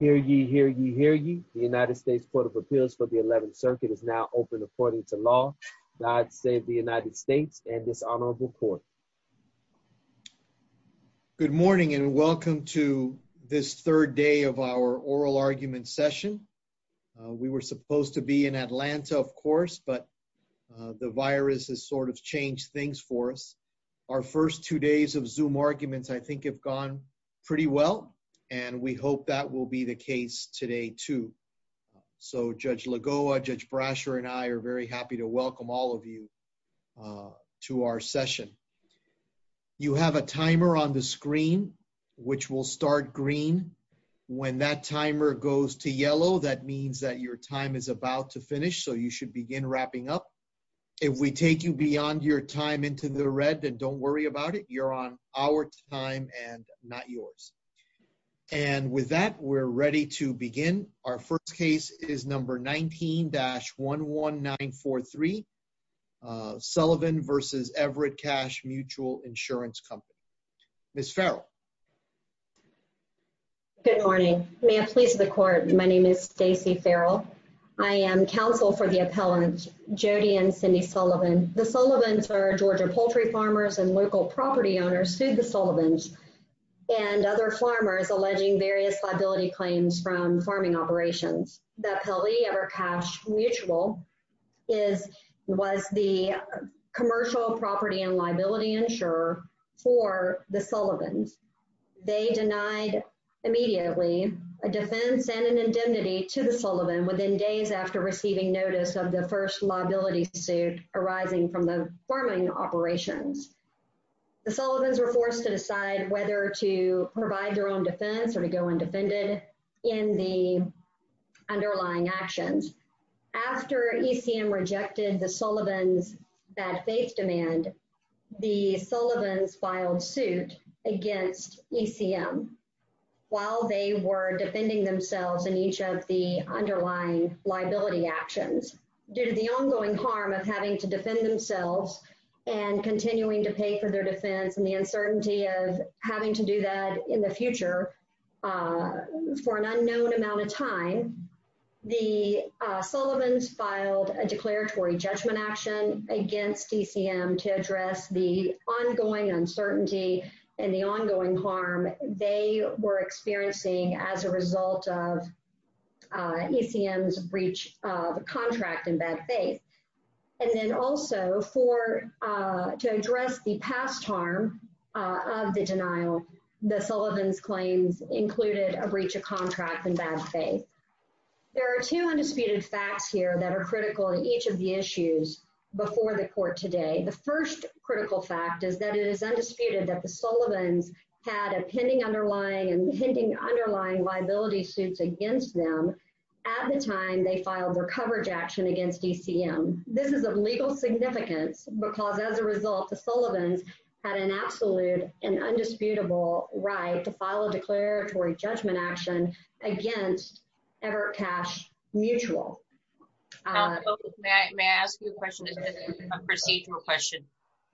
Hear ye, hear ye, hear ye. The United States Court of Appeals for the 11th Circuit is now open according to law. God save the United States and this honorable court. Good morning and welcome to this third day of our oral argument session. We were supposed to be in Atlanta, of course, but the virus has sort of changed things for us. Our first two days of Zoom arguments I think have gone pretty well, and we hope that will be the case today, too. So Judge Lagoa, Judge Brasher, and I are very happy to welcome all of you to our session. You have a timer on the screen, which will start green. When that timer goes to yellow, that means that your time is about to finish, so you should begin wrapping up. If we take you beyond your time into the red, then don't worry about it. You're on our time and not yours. And with that, we're ready to begin. Our first case is number 19-11943, Sullivan v. Everett Cash Mutual Insurance Company. Ms. Farrell. Good morning. May it please the court, my name is Stacy Farrell. I am counsel for the Everett Cash Mutual and Cindy Sullivan. The Sullivans are Georgia poultry farmers and local property owners who sued the Sullivans and other farmers alleging various liability claims from farming operations. The Pele Everett Cash Mutual was the commercial property and liability insurer for the Sullivans. They denied immediately a defense and an indemnity to the Sullivan within days after receiving notice of the first liability suit arising from the farming operations. The Sullivans were forced to decide whether to provide their own defense or to go undefended in the underlying actions. After ECM rejected the Sullivans' bad faith demand, the Sullivans filed suit against ECM while they were defending themselves in each of the underlying liability actions. Due to the ongoing harm of having to defend themselves and continuing to pay for their defense and the uncertainty of having to do that in the future for an unknown amount of time, the Sullivans filed a declaratory judgment action against ECM to address the ongoing uncertainty and the ongoing harm they were experiencing as a result of ECM's breach of the contract in bad faith. And then also to address the past harm of the denial, the Sullivans' claims included a breach of contract in bad faith. There are two undisputed facts here that are critical in each of the issues before the court today. The first critical fact is that it is undisputed that the Sullivans had a pending underlying and pending underlying liability suits against them at the time they filed their coverage action against ECM. This is of legal significance because as a result, the Sullivans had an absolute and undisputable right to file a declaratory judgment action against Everett Cash Mutual. May I ask you a question, a procedural question?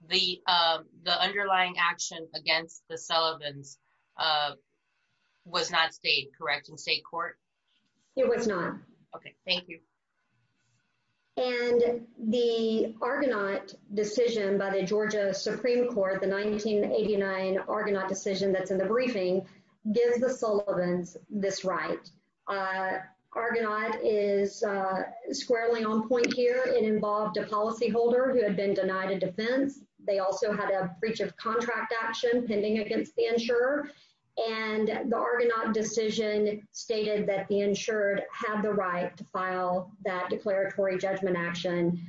The underlying action against the Sullivans was not stayed correct in state court? It was not. Okay, thank you. And the Argonaut decision by the Georgia Supreme Court, the 1989 Argonaut decision that's in the briefing, gives the Sullivans this right. Argonaut is squarely on point here. It involved a policyholder who had been denied a defense. They also had a breach of contract action pending against the insurer. And the Argonaut decision stated that the insured had the right to file that declaratory judgment action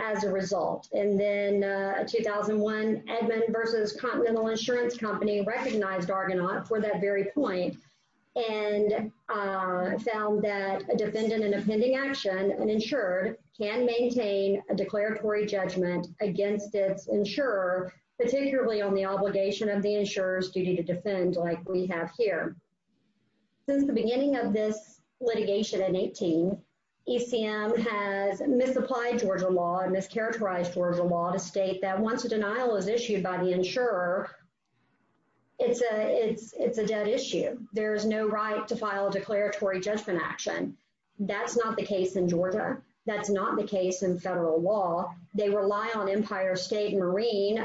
as a result. And then 2001 Edmund versus Continental Insurance Company recognized Argonaut for that very point and found that a defendant in a pending action and insured can maintain a declaratory judgment against its insurer, particularly on the obligation of the insurers duty to defend like we have here. Since the beginning of this litigation in 18, ECM has misapplied Georgia law and mischaracterized Georgia law to state that once a denial is issued by the insurer, it's a dead issue. There's no right to file a declaratory judgment action. That's not the case in Georgia. That's not the case in federal law. They rely on Empire State Marine.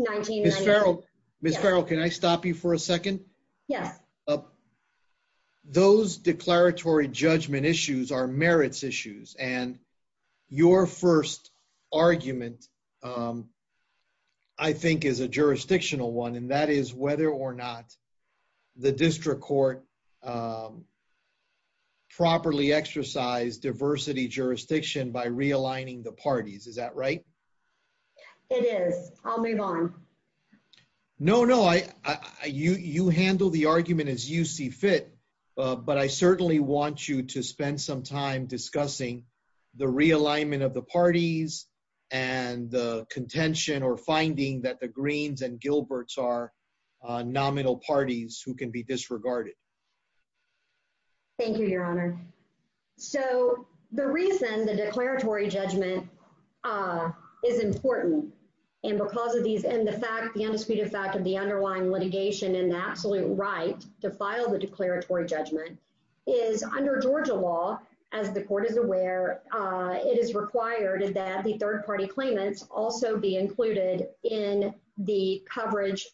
Miss Farrell, can I stop you for a second? Yes. Those declaratory judgment issues are merits issues. And your first argument, I think, is a jurisdictional one. And that is whether or not the district court properly exercise diversity jurisdiction by realigning the parties. Is that right? It is. I'll move on. No, no, I you you handle the argument as you see fit. But I certainly want you to spend some time discussing the realignment of the parties and the contention or finding that the greens and Gilbert's are nominal parties who can be disregarded. Thank you, Your Honor. So the reason the declaratory judgment is important and because of these and the fact the undisputed fact of the underlying litigation and the absolute right to file the declaratory judgment is under Georgia law. As the court is aware, it is required that the third party claimants also be included in the coverage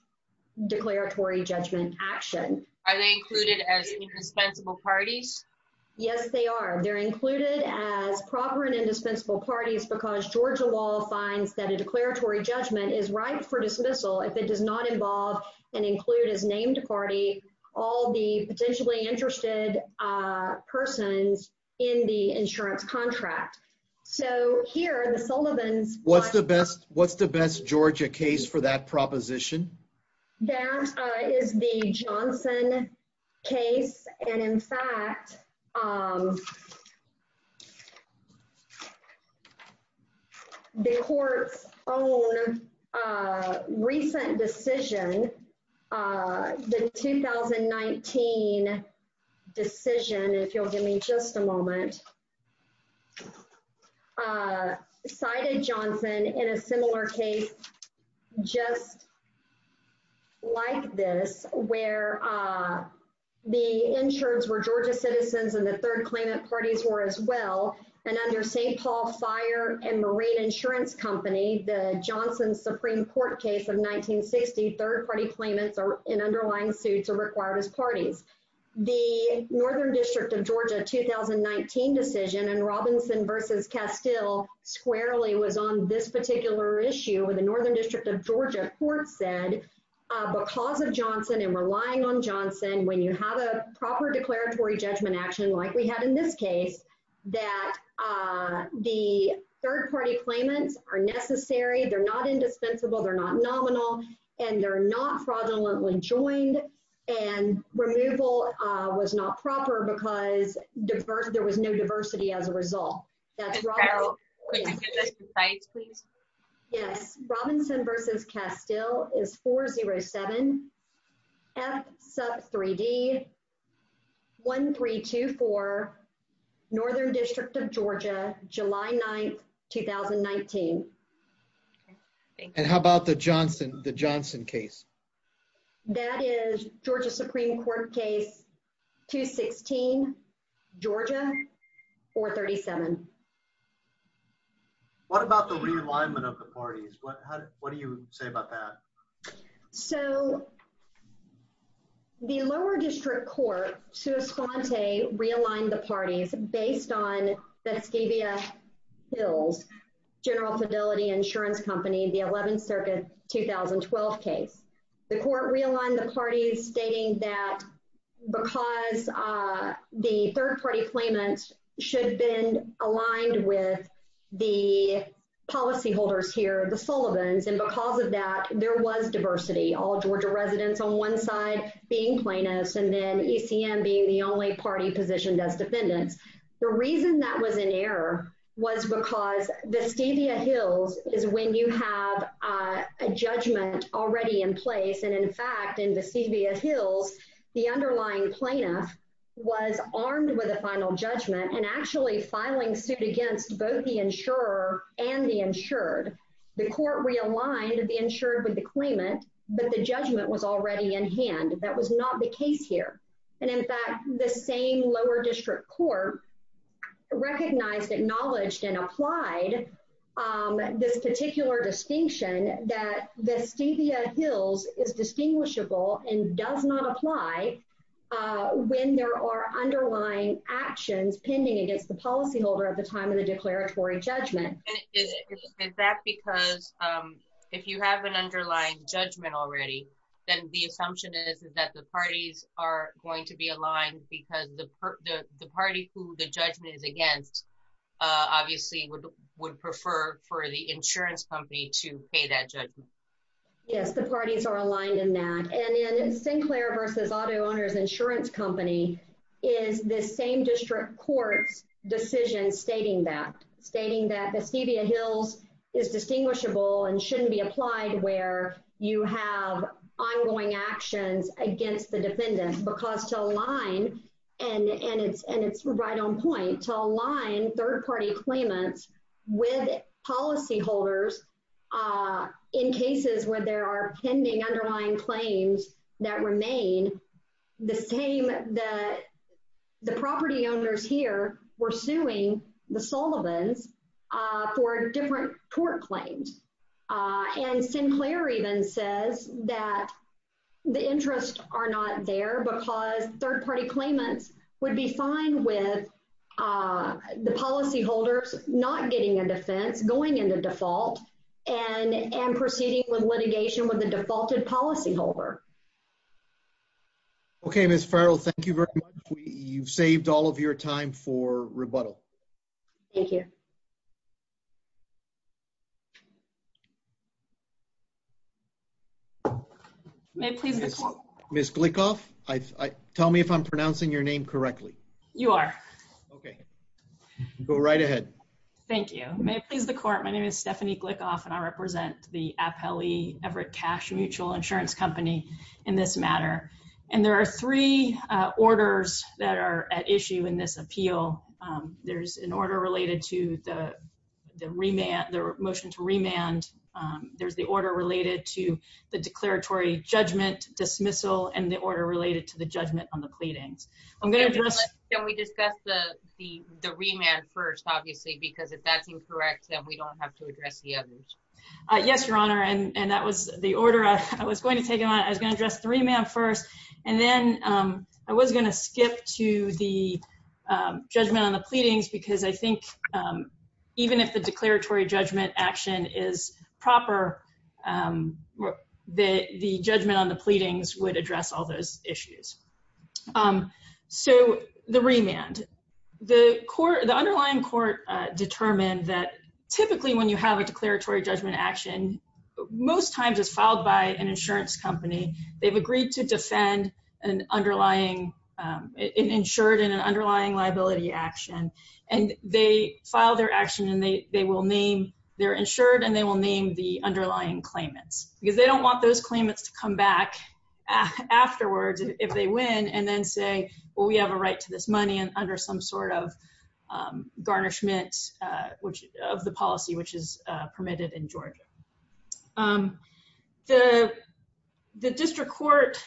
declaratory judgment action. Are they included as indispensable parties? Yes, they are. They're included as proper and indispensable parties because Georgia law finds that a declaratory judgment is right for dismissal if it does not involve and include his named party, all the potentially interested persons in the insurance contract. So here the Sullivan's what's the best? What's the best Georgia case for that proposition? That is the Johnson case. And in fact, the court's own recent decision, the 2019 decision, if you'll give me just a moment, cited Johnson in a similar case just like this where the insureds were Georgia citizens and the third claimant parties were as well. And under St. Paul Fire and Marine Insurance Company, the Johnson Supreme Court case of 1960, third party claimants in underlying suits are required as parties. The Northern District of Georgia 2019 decision and Robinson versus Castile squarely was on this particular issue with the Northern District of Georgia court said, because of Johnson and relying on Johnson, when you have a proper declaratory judgment action, like we had in this case, that the third party claimants are necessary, they're not indispensable, they're not nominal, and they're not fraudulently joined. And removal was not proper because there was no diversity as a result. Yes, Robinson versus Castile is 407 F sub 3d 1324 Northern District of Georgia, July 9 2019. And how about the Johnson, the Johnson case? That is Georgia Supreme Court case 216, Georgia 437. What about the realignment of the parties? What do you say about that? So the lower district court to respond to a realigned the parties based on that scabia hills, General Fidelity Insurance Company, the 11th Circuit 2012 case, the court realigned the parties stating that because the third party claimants should have been aligned with the policyholders here, the Sullivan's, and because of that, there was diversity, all Georgia residents on one side being plaintiffs, and then ECM being the only party positioned as defendants. The reason that was in error was because the scabia hills is when you have a judgment already in place. And in fact, in the scabia hills, the underlying plaintiff was armed with a final judgment and actually filing suit against both the insurer and the insured. The court realigned the insured with the claimant, but the judgment was already in hand. That was not the case here. And in fact, the same lower district court recognized, acknowledged and applied this particular distinction that the scabia hills is distinguishable and does not apply when there are underlying actions pending against the policyholder at the time of the declaratory judgment. Is that because if you have an underlying judgment already, then the assumption is that the parties are going to be aligned because the party who the judgment is against obviously would prefer for the insurance company to pay that judgment? Yes, the parties are aligned in that. And in Sinclair versus auto owners insurance company is the same district court's decision stating that, stating that the scabia hills is distinguishable and shouldn't be applied where you have ongoing actions against the defendant because to align, and it's right on point, to align third party claimants with policyholders in cases where there are pending underlying claims that remain the same that the property owners here were suing the Sullivan's for different court claims. And Sinclair even says that the interests are not there because third party claimants would be fine with the policyholders not getting a defense, going into default, and proceeding with litigation with the defaulted policyholder. Okay, Ms. Farrell, thank you very much. You've saved all of your time for rebuttal. Thank you. May it please the court. Ms. Glickoff, tell me if I'm pronouncing your name correctly. You are. Okay, go right ahead. Thank you. May it please the court. My name is Stephanie Glickoff and I represent the Appellee Everett Cash Mutual insurance company in this matter. And there are three orders that are at issue in this appeal. There's an order related to the remand, the motion to remand. There's the order related to the declaratory judgment dismissal and the order related to the judgment on the pleadings. Can we discuss the remand first, obviously, because if that's incorrect, then we don't have to address the others. Yes, your honor. And that was the order I was going to take on. I was going to address the remand first. And then I was going to skip to the judgment on the pleadings because I think even if the declaratory judgment action is proper, the judgment on the pleadings would address all those issues. So the remand, the underlying court determined that typically when you have a declaratory judgment action, most times it's filed by an insurance company. They've agreed to defend an underlying, an insured and an underlying liability action. And they file their action and they will name, they're insured and they will name the underlying claimants because they don't want those claimants to come back afterwards if they win and then say, well, we have a right to this money and under some sort of garnishment of the policy, which is permitted in Georgia. The district court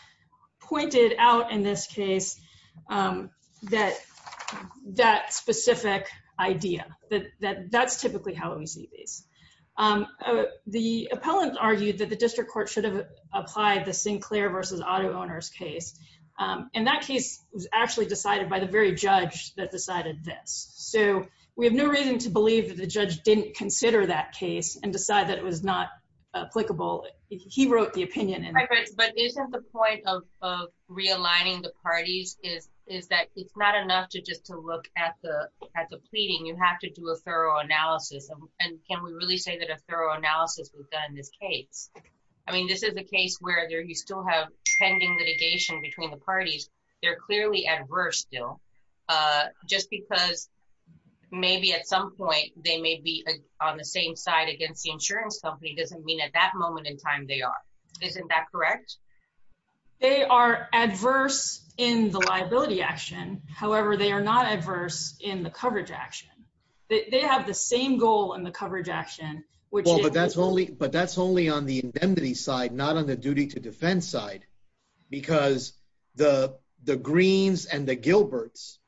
pointed out in this case that specific idea that that's typically how we see these. The appellant argued that the district court should have applied the Sinclair versus auto owners case. And that case was actually decided by the very judge that decided this. So we have no reason to believe that the judge didn't consider that case and decide that it was not applicable. He wrote the realigning. The parties is, is that it's not enough to just to look at the, at the pleading, you have to do a thorough analysis. And can we really say that a thorough analysis we've done in this case? I mean, this is a case where there, you still have pending litigation between the parties. They're clearly adverse still just because maybe at some point they may be on the same side against the insurance company. It doesn't mean at that moment in time, they are, isn't that correct? They are adverse in the liability action. However, they are not adverse in the coverage action. They have the same goal in the coverage action, which that's only, but that's only on the indemnity side, not on the duty to defense side, because the, the greens and the Gilbert's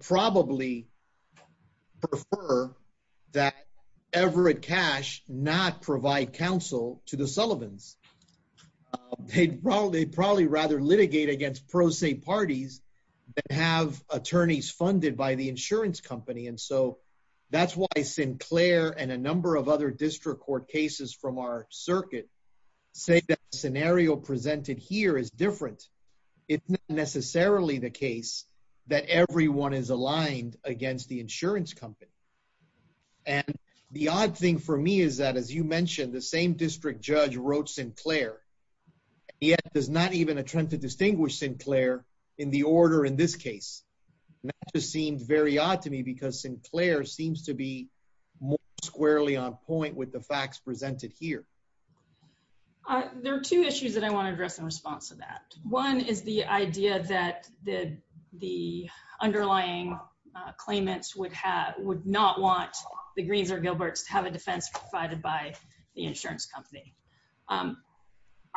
probably prefer that Everett cash not provide counsel to the Sullivans. They'd probably, they'd probably rather litigate against pro se parties that have attorneys funded by the insurance company. And so that's why Sinclair and a number of other district court cases from our circuit say that scenario presented here is different. It's not necessarily the case that everyone is aligned against the insurance company. And the odd thing for me is that, as you mentioned, the same district judge wrote Sinclair and yet does not even attempt to distinguish Sinclair in the order in this case. And that just seemed very odd to me because Sinclair seems to be more squarely on point with the facts presented here. There are two issues that I want to address in response to that. One is the idea that the, underlying claimants would have, would not want the greens or Gilbert's to have a defense provided by the insurance company.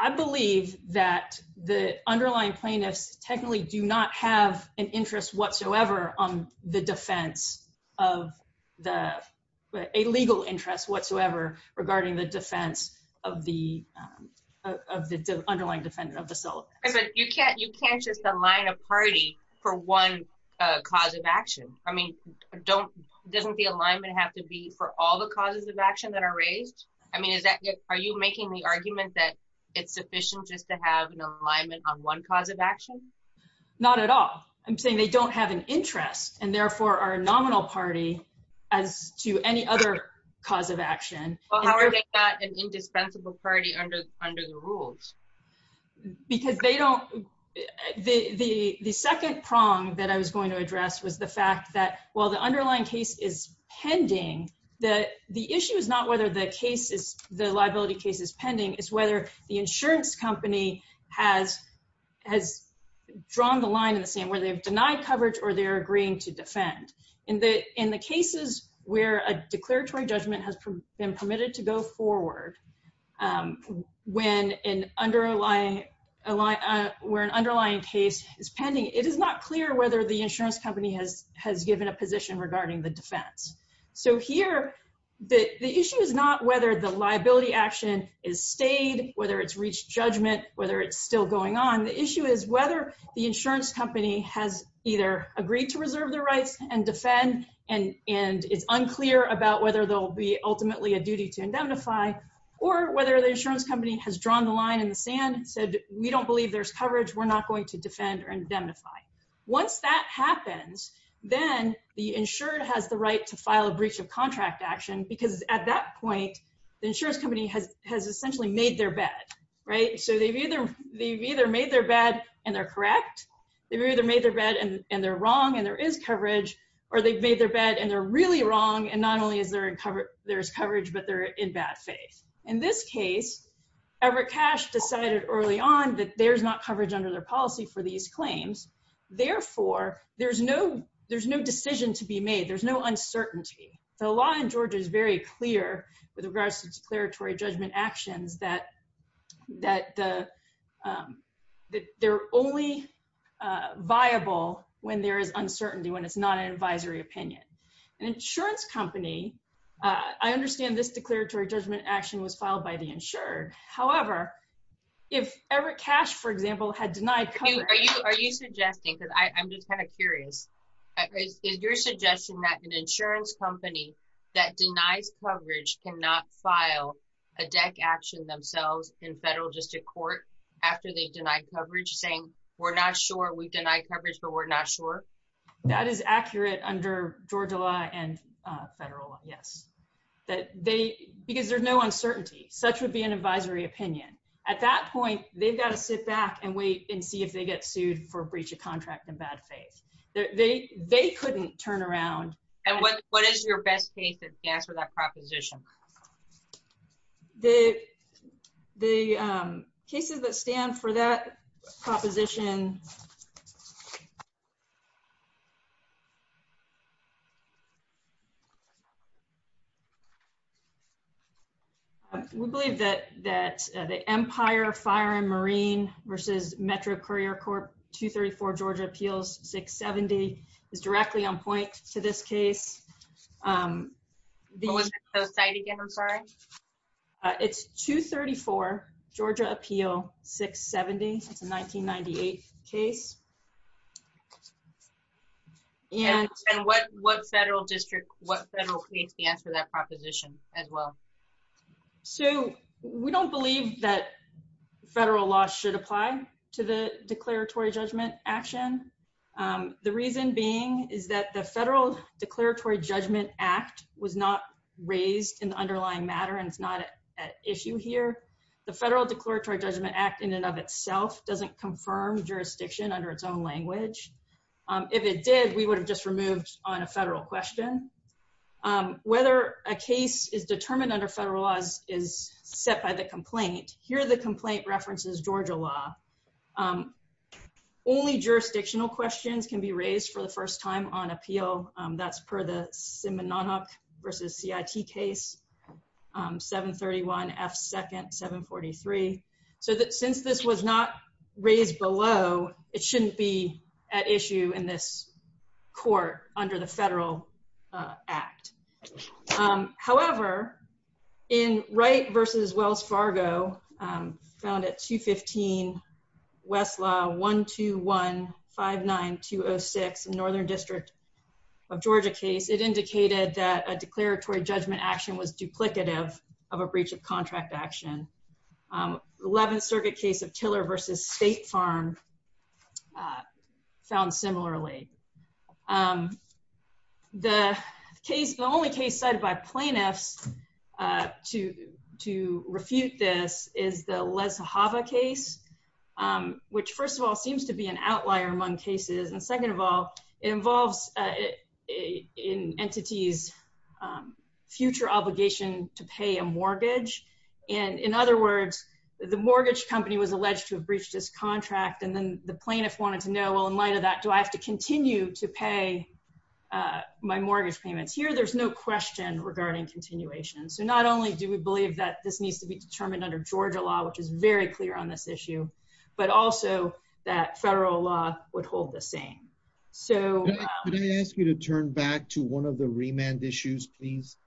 I believe that the underlying plaintiffs technically do not have an interest whatsoever on the defense of the, a legal interest whatsoever regarding the defense of the, of the underlying defendant of the cell. But you can't, you can't just align a party for one cause of action. I mean, don't, doesn't the alignment have to be for all the causes of action that are raised? I mean, is that, are you making the argument that it's sufficient just to have an alignment on one cause of action? Not at all. I'm saying they don't have an interest and therefore are nominal party as to any other cause of action. Well, how are they not an indispensable party under, under the rules? Because they don't, the, the, the second prong that I was going to address was the fact that while the underlying case is pending, that the issue is not whether the case is the liability case is pending is whether the insurance company has, has drawn the line in the same way they've to defend in the, in the cases where a declaratory judgment has been permitted to go forward. When an underlying, where an underlying case is pending, it is not clear whether the insurance company has, has given a position regarding the defense. So here the issue is not whether the liability action is stayed, whether it's reached judgment, whether it's still going on. The issue is whether the insurance company has either agreed to reserve their rights and defend and, and it's unclear about whether there'll be ultimately a duty to indemnify or whether the insurance company has drawn the line in the sand and said, we don't believe there's coverage. We're not going to defend or indemnify. Once that happens, then the insured has the right to file a breach of contract action because at that point, the insurance company has, has essentially made their bed, right? So they've either, they've either made their bed and they're correct. They've either made their bed and they're wrong and there is coverage, or they've made their bed and they're really wrong. And not only is there in coverage, there's coverage, but they're in bad faith. In this case, Everett Cash decided early on that there's not coverage under their policy for these claims. Therefore, there's no, there's no decision to be made. There's no uncertainty. The law in Georgia is very clear with regards to declaratory judgment actions that, that the, that they're only viable when there is uncertainty, when it's not an advisory opinion. An insurance company, I understand this declaratory judgment action was filed by the insured. However, if Everett Cash, for example, had denied coverage. Are you suggesting, because I'm just kind of curious, is your suggestion that an insurance company that denies coverage cannot file a deck action themselves in federal district court after they've denied coverage saying, we're not sure we've denied coverage, but we're not sure? That is accurate under Georgia law and federal law, yes. That they, because there's no uncertainty, such would be an advisory opinion. At that point, they've got to sit back and wait and see if they get sued for breach of contract in bad faith. They, they, they couldn't turn around. And what, what is your best case that stands for that proposition? The, the cases that stand for that proposition. We believe that, that the Empire Fire and Marine versus Metro Courier Corp 234 Georgia appeals 670 is directly on point to this case. What was the code site again? I'm sorry. Uh, it's 234 Georgia appeal 670. It's a 1998 case. And what, what federal district, what federal case stands for that proposition as well? So we don't believe that federal law should apply to the declaratory judgment action. The reason being is that the federal declaratory judgment act was not raised in the underlying matter. And it's not an issue here. The federal declaratory judgment act in and of itself doesn't confirm jurisdiction under its own language. If it did, we would have just removed on a federal question. Whether a case is determined under federal laws is set by the complaint here. The complaint references Georgia law. Only jurisdictional questions can be raised for the first time on appeal. That's per the Simanonuk versus CIT case 731 F second 743. So that since this was not raised below, it shouldn't be at issue in this court under the federal act. However, in Wright versus Wells Fargo found at 215 Westlaw 12159206 Northern district of Georgia case, it indicated that a declaratory judgment action was duplicative of a breach of contract action. 11th circuit case of tiller versus state farm uh found similarly um the case the only case cited by plaintiffs uh to to refute this is the les java case um which first of all seems to be an outlier among cases and second of all involves uh in entities um future obligation to pay a mortgage and in other words the mortgage company was alleged to have breached his contract and then the plaintiff wanted to know well in light of that do I have to continue to pay uh my mortgage payments here there's no question regarding continuation so not only do we believe that this needs to be determined under Georgia law which is very clear on this issue but also that federal law would hold the same so can I ask you to turn back to one of the remand issues please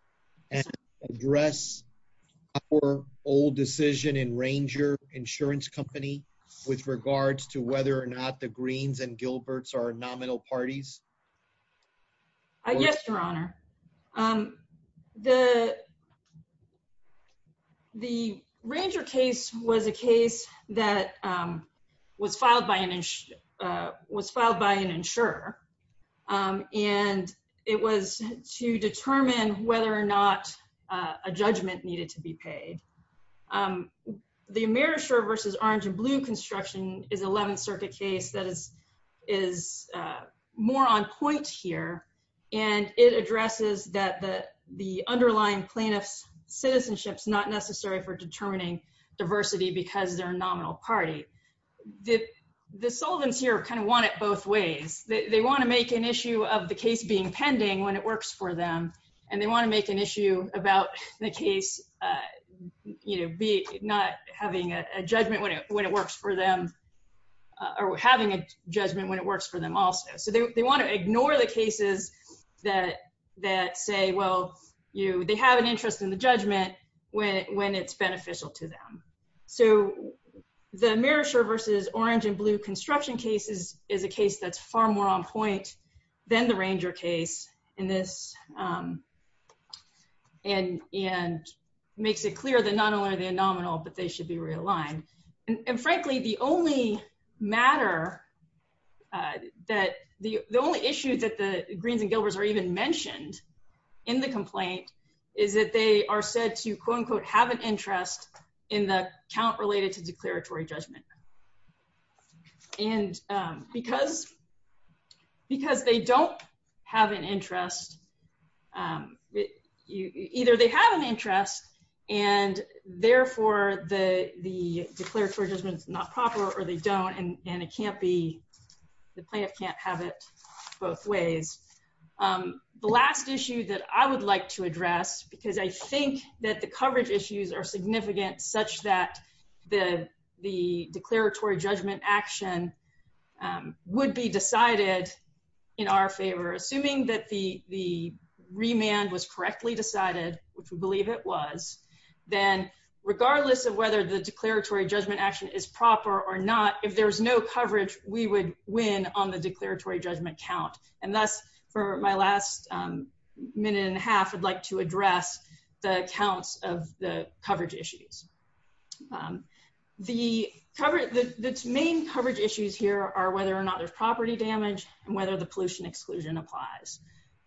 and address our old decision in ranger insurance company with regards to whether or not the greens and gilberts are nominal parties yes your honor um the the ranger case was a case that um was filed by an uh was filed by an insurer um and it was to determine whether or not uh a judgment needed to be paid um the marisher versus orange and blue construction is 11th circuit case that is is uh more on point here and it addresses that the the underlying plaintiff's citizenship's not necessary for determining diversity because they're a nominal party the the solvents here kind of want it both ways they want to make an issue of the case being pending when it works for them and they want to make an issue about the case uh you know be not having a judgment when it when it works for them or having a judgment when it works for them also so they want to ignore the cases that that say well you they have an interest in the judgment when when it's beneficial to them so the marisher versus orange and blue construction cases is a case that's far more on point than the ranger case in this um and and makes it clear that not only are they nominal but they should be realigned and frankly the only matter uh that the the only issue that the greens and gilberts are even mentioned in the complaint is that they are said to quote unquote have an interest in the count related to declaratory judgment and um because because they don't have an interest um either they have an interest and therefore the the declaratory judgment is not proper or they don't and and it can't be the plaintiff can't have it both ways um the last issue that i would like to address because i think that the coverage issues are significant such that the the declaratory judgment action um would be decided in our favor assuming that the the remand was correctly decided which we believe it was then regardless of whether the declaratory judgment action is proper or not if there's no coverage we would win on the declaratory judgment count and thus for my last um minute and a half i'd like to address the accounts of the coverage issues the cover the the main coverage issues here are whether or not there's property damage and whether the pollution exclusion applies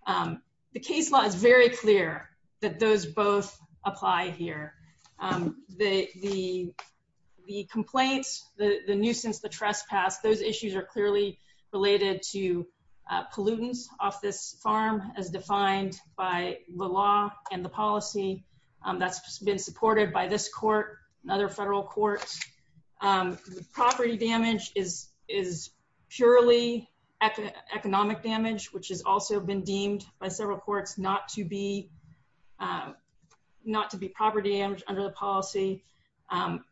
um the case law is very clear that those both apply here um the the the complaints the the nuisance the trespass those issues are clearly related to pollutants off this farm as defined by the law and the policy that's been supported by this court another federal court um property damage is is purely economic damage which has also been deemed by several courts not to be not to be property damage under the policy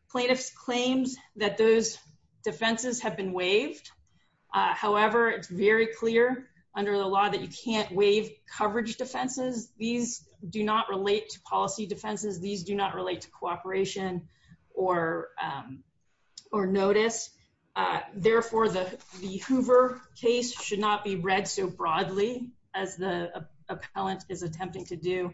plaintiffs claims that those defenses have been waived uh however it's very clear under the law that you can't waive coverage defenses these do not relate to policy defenses these do not relate to cooperation or um or notice uh therefore the the hoover case should not be read so broadly as the appellant is attempting to do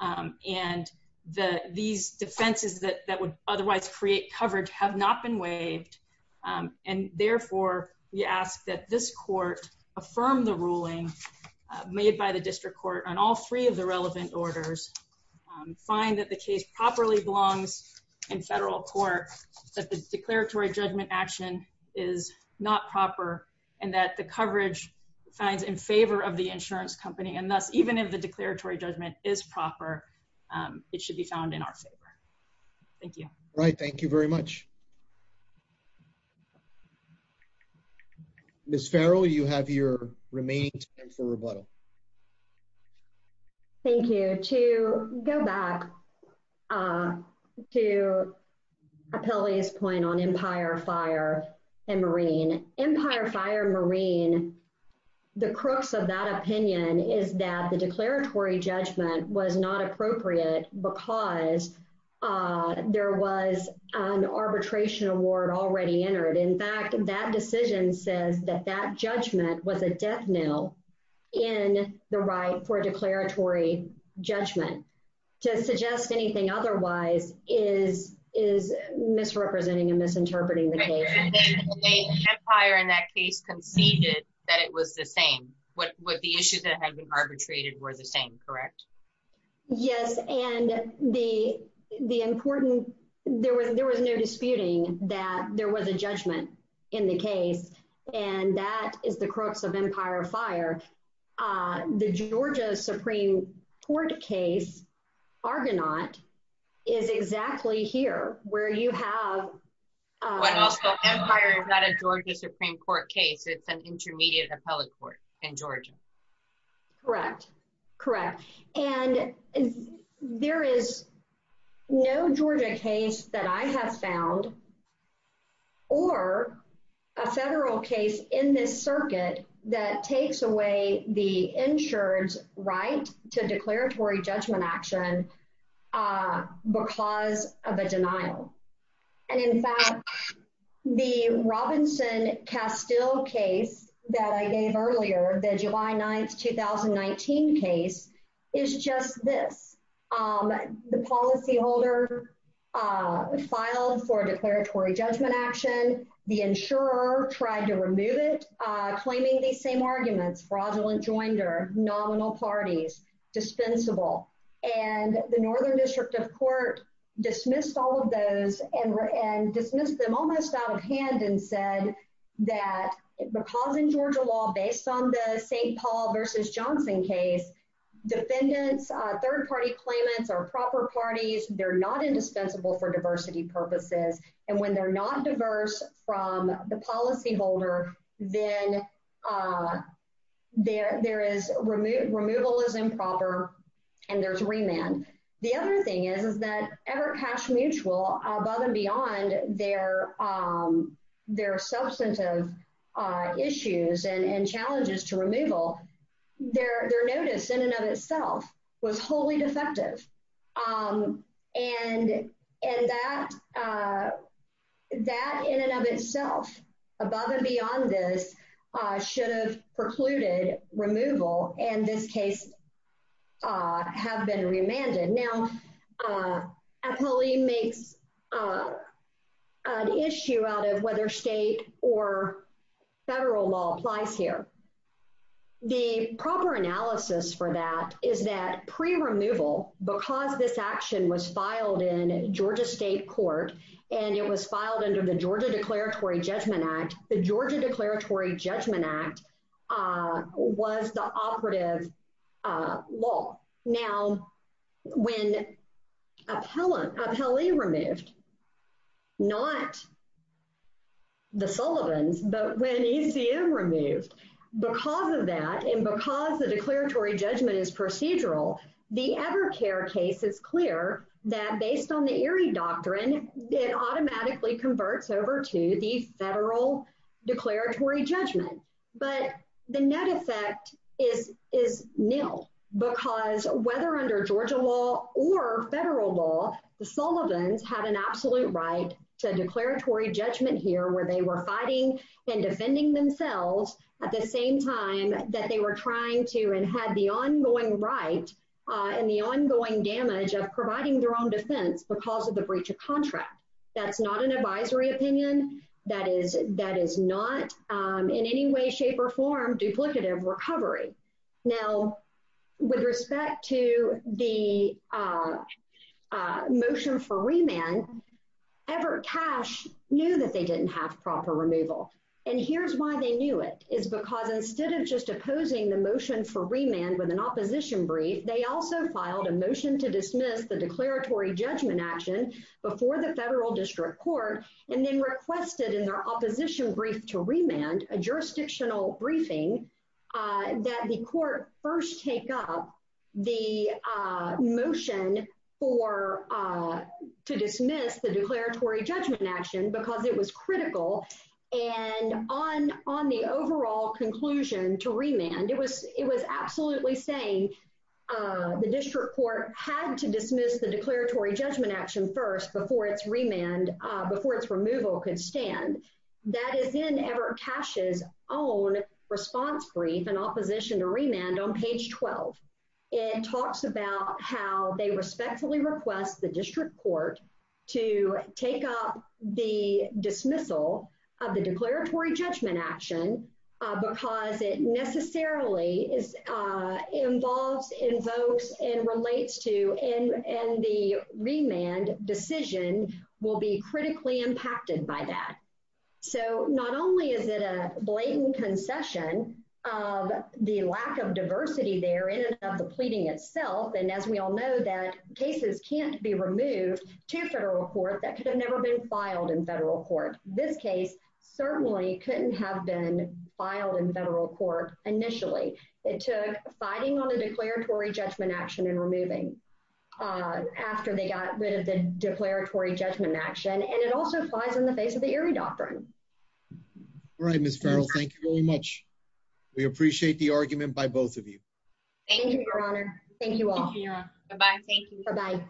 um and the these defenses that that would otherwise create coverage have not been waived um and therefore we ask that this court affirm the ruling made by the district court on all three of the relevant orders find that the case properly belongs in federal court that the declaratory judgment action is not proper and that the coverage finds in favor of the insurance company and thus even if the declaratory judgment is proper um it should be found in our favor thank you right thank you very much miss farrell you have your remaining time for rebuttal thank you to go back uh to appellee's point on empire fire and marine empire fire marine the crooks of that opinion is that the declaratory judgment was not appropriate because uh there was an arbitration award already entered in fact that decision says that that judgment was a death nail in the right for declaratory judgment to suggest anything otherwise is is misrepresenting and misinterpreting the case empire in that case conceded that it was the same what what the issues that had been arbitrated were the same correct yes and the the important there was there was no disputing that there was a judgment in the case and that is the crooks of empire fire uh the georgia supreme court case argonaut is exactly here where you have um empire is not a georgia supreme court case it's an intermediate appellate court in georgia correct correct and there is no georgia case that i have found or a federal case in this circuit that takes away the insurance right to declaratory judgment action uh because of a denial and in fact the robinson castile case that i gave earlier the july 9th 2019 case is just this um the policyholder uh filed for declaratory judgment action the insurer tried to remove it uh claiming these same arguments fraudulent joinder nominal parties dispensable and the northern district of court dismissed all of those and and dismissed them almost out of hand and said that because in georgia law based on the st paul versus johnson case defendants uh third party claimants are proper parties they're not indispensable for diversity purposes and when they're not diverse from the policyholder then uh there there is removal is improper and there's remand the other thing is is that ever cash mutual above and beyond their um their substantive uh issues and and challenges to removal their their notice in and of itself was wholly defective um and and that uh that in and itself above and beyond this uh should have precluded removal and this case uh have been remanded now uh apolli makes uh an issue out of whether state or federal law applies here the proper analysis for that is that pre-removal because this action was filed in georgia state court and it was filed under the georgia declaratory judgment act the georgia declaratory judgment act uh was the operative uh law now when appellant appellee removed not the sullivans but when ecm removed because of that and because the declaratory judgment is procedural the ever care case is clear that based on the erie doctrine it automatically converts over to the federal declaratory judgment but the net effect is is nil because whether under georgia law or federal law the sullivans had an absolute right to declaratory judgment here where they were fighting and defending themselves at the same time that they were trying to and had the ongoing right and the ongoing damage of providing their own defense because of the breach of contract that's not an advisory opinion that is that is not um in any way shape or form duplicative recovery now with respect to the uh motion for remand ever cash knew that they didn't have proper removal and here's why they knew it is because instead of just opposing the motion for remand with an opposition brief they also filed a motion to dismiss the declaratory judgment action before the federal district court and then requested in their opposition brief to remand a jurisdictional briefing uh that the court first take up the uh motion for uh to dismiss the declaratory judgment action because it was critical and on on the overall conclusion to remand it was it was absolutely saying uh the district court had to dismiss the declaratory judgment action first before its remand uh before its removal could stand that is in ever cash's own response brief in opposition to remand on page 12 it talks about how they respectfully request the district court to take up the dismissal of the declaratory judgment action because it necessarily is uh involves invokes and relates to and and the remand decision will be critically impacted by that so not only is it a blatant concession of the lack of diversity there in and of the pleading itself and as we all know that cases can't be removed to federal court that could have never been filed in federal court this case certainly couldn't have been filed in federal court initially it took fighting on the declaratory judgment action and removing uh after they got rid of the declaratory judgment action and it also flies in the face of the eerie doctrine all right miss ferrell thank you very much we appreciate the argument by both of you thank you your honor thank you all bye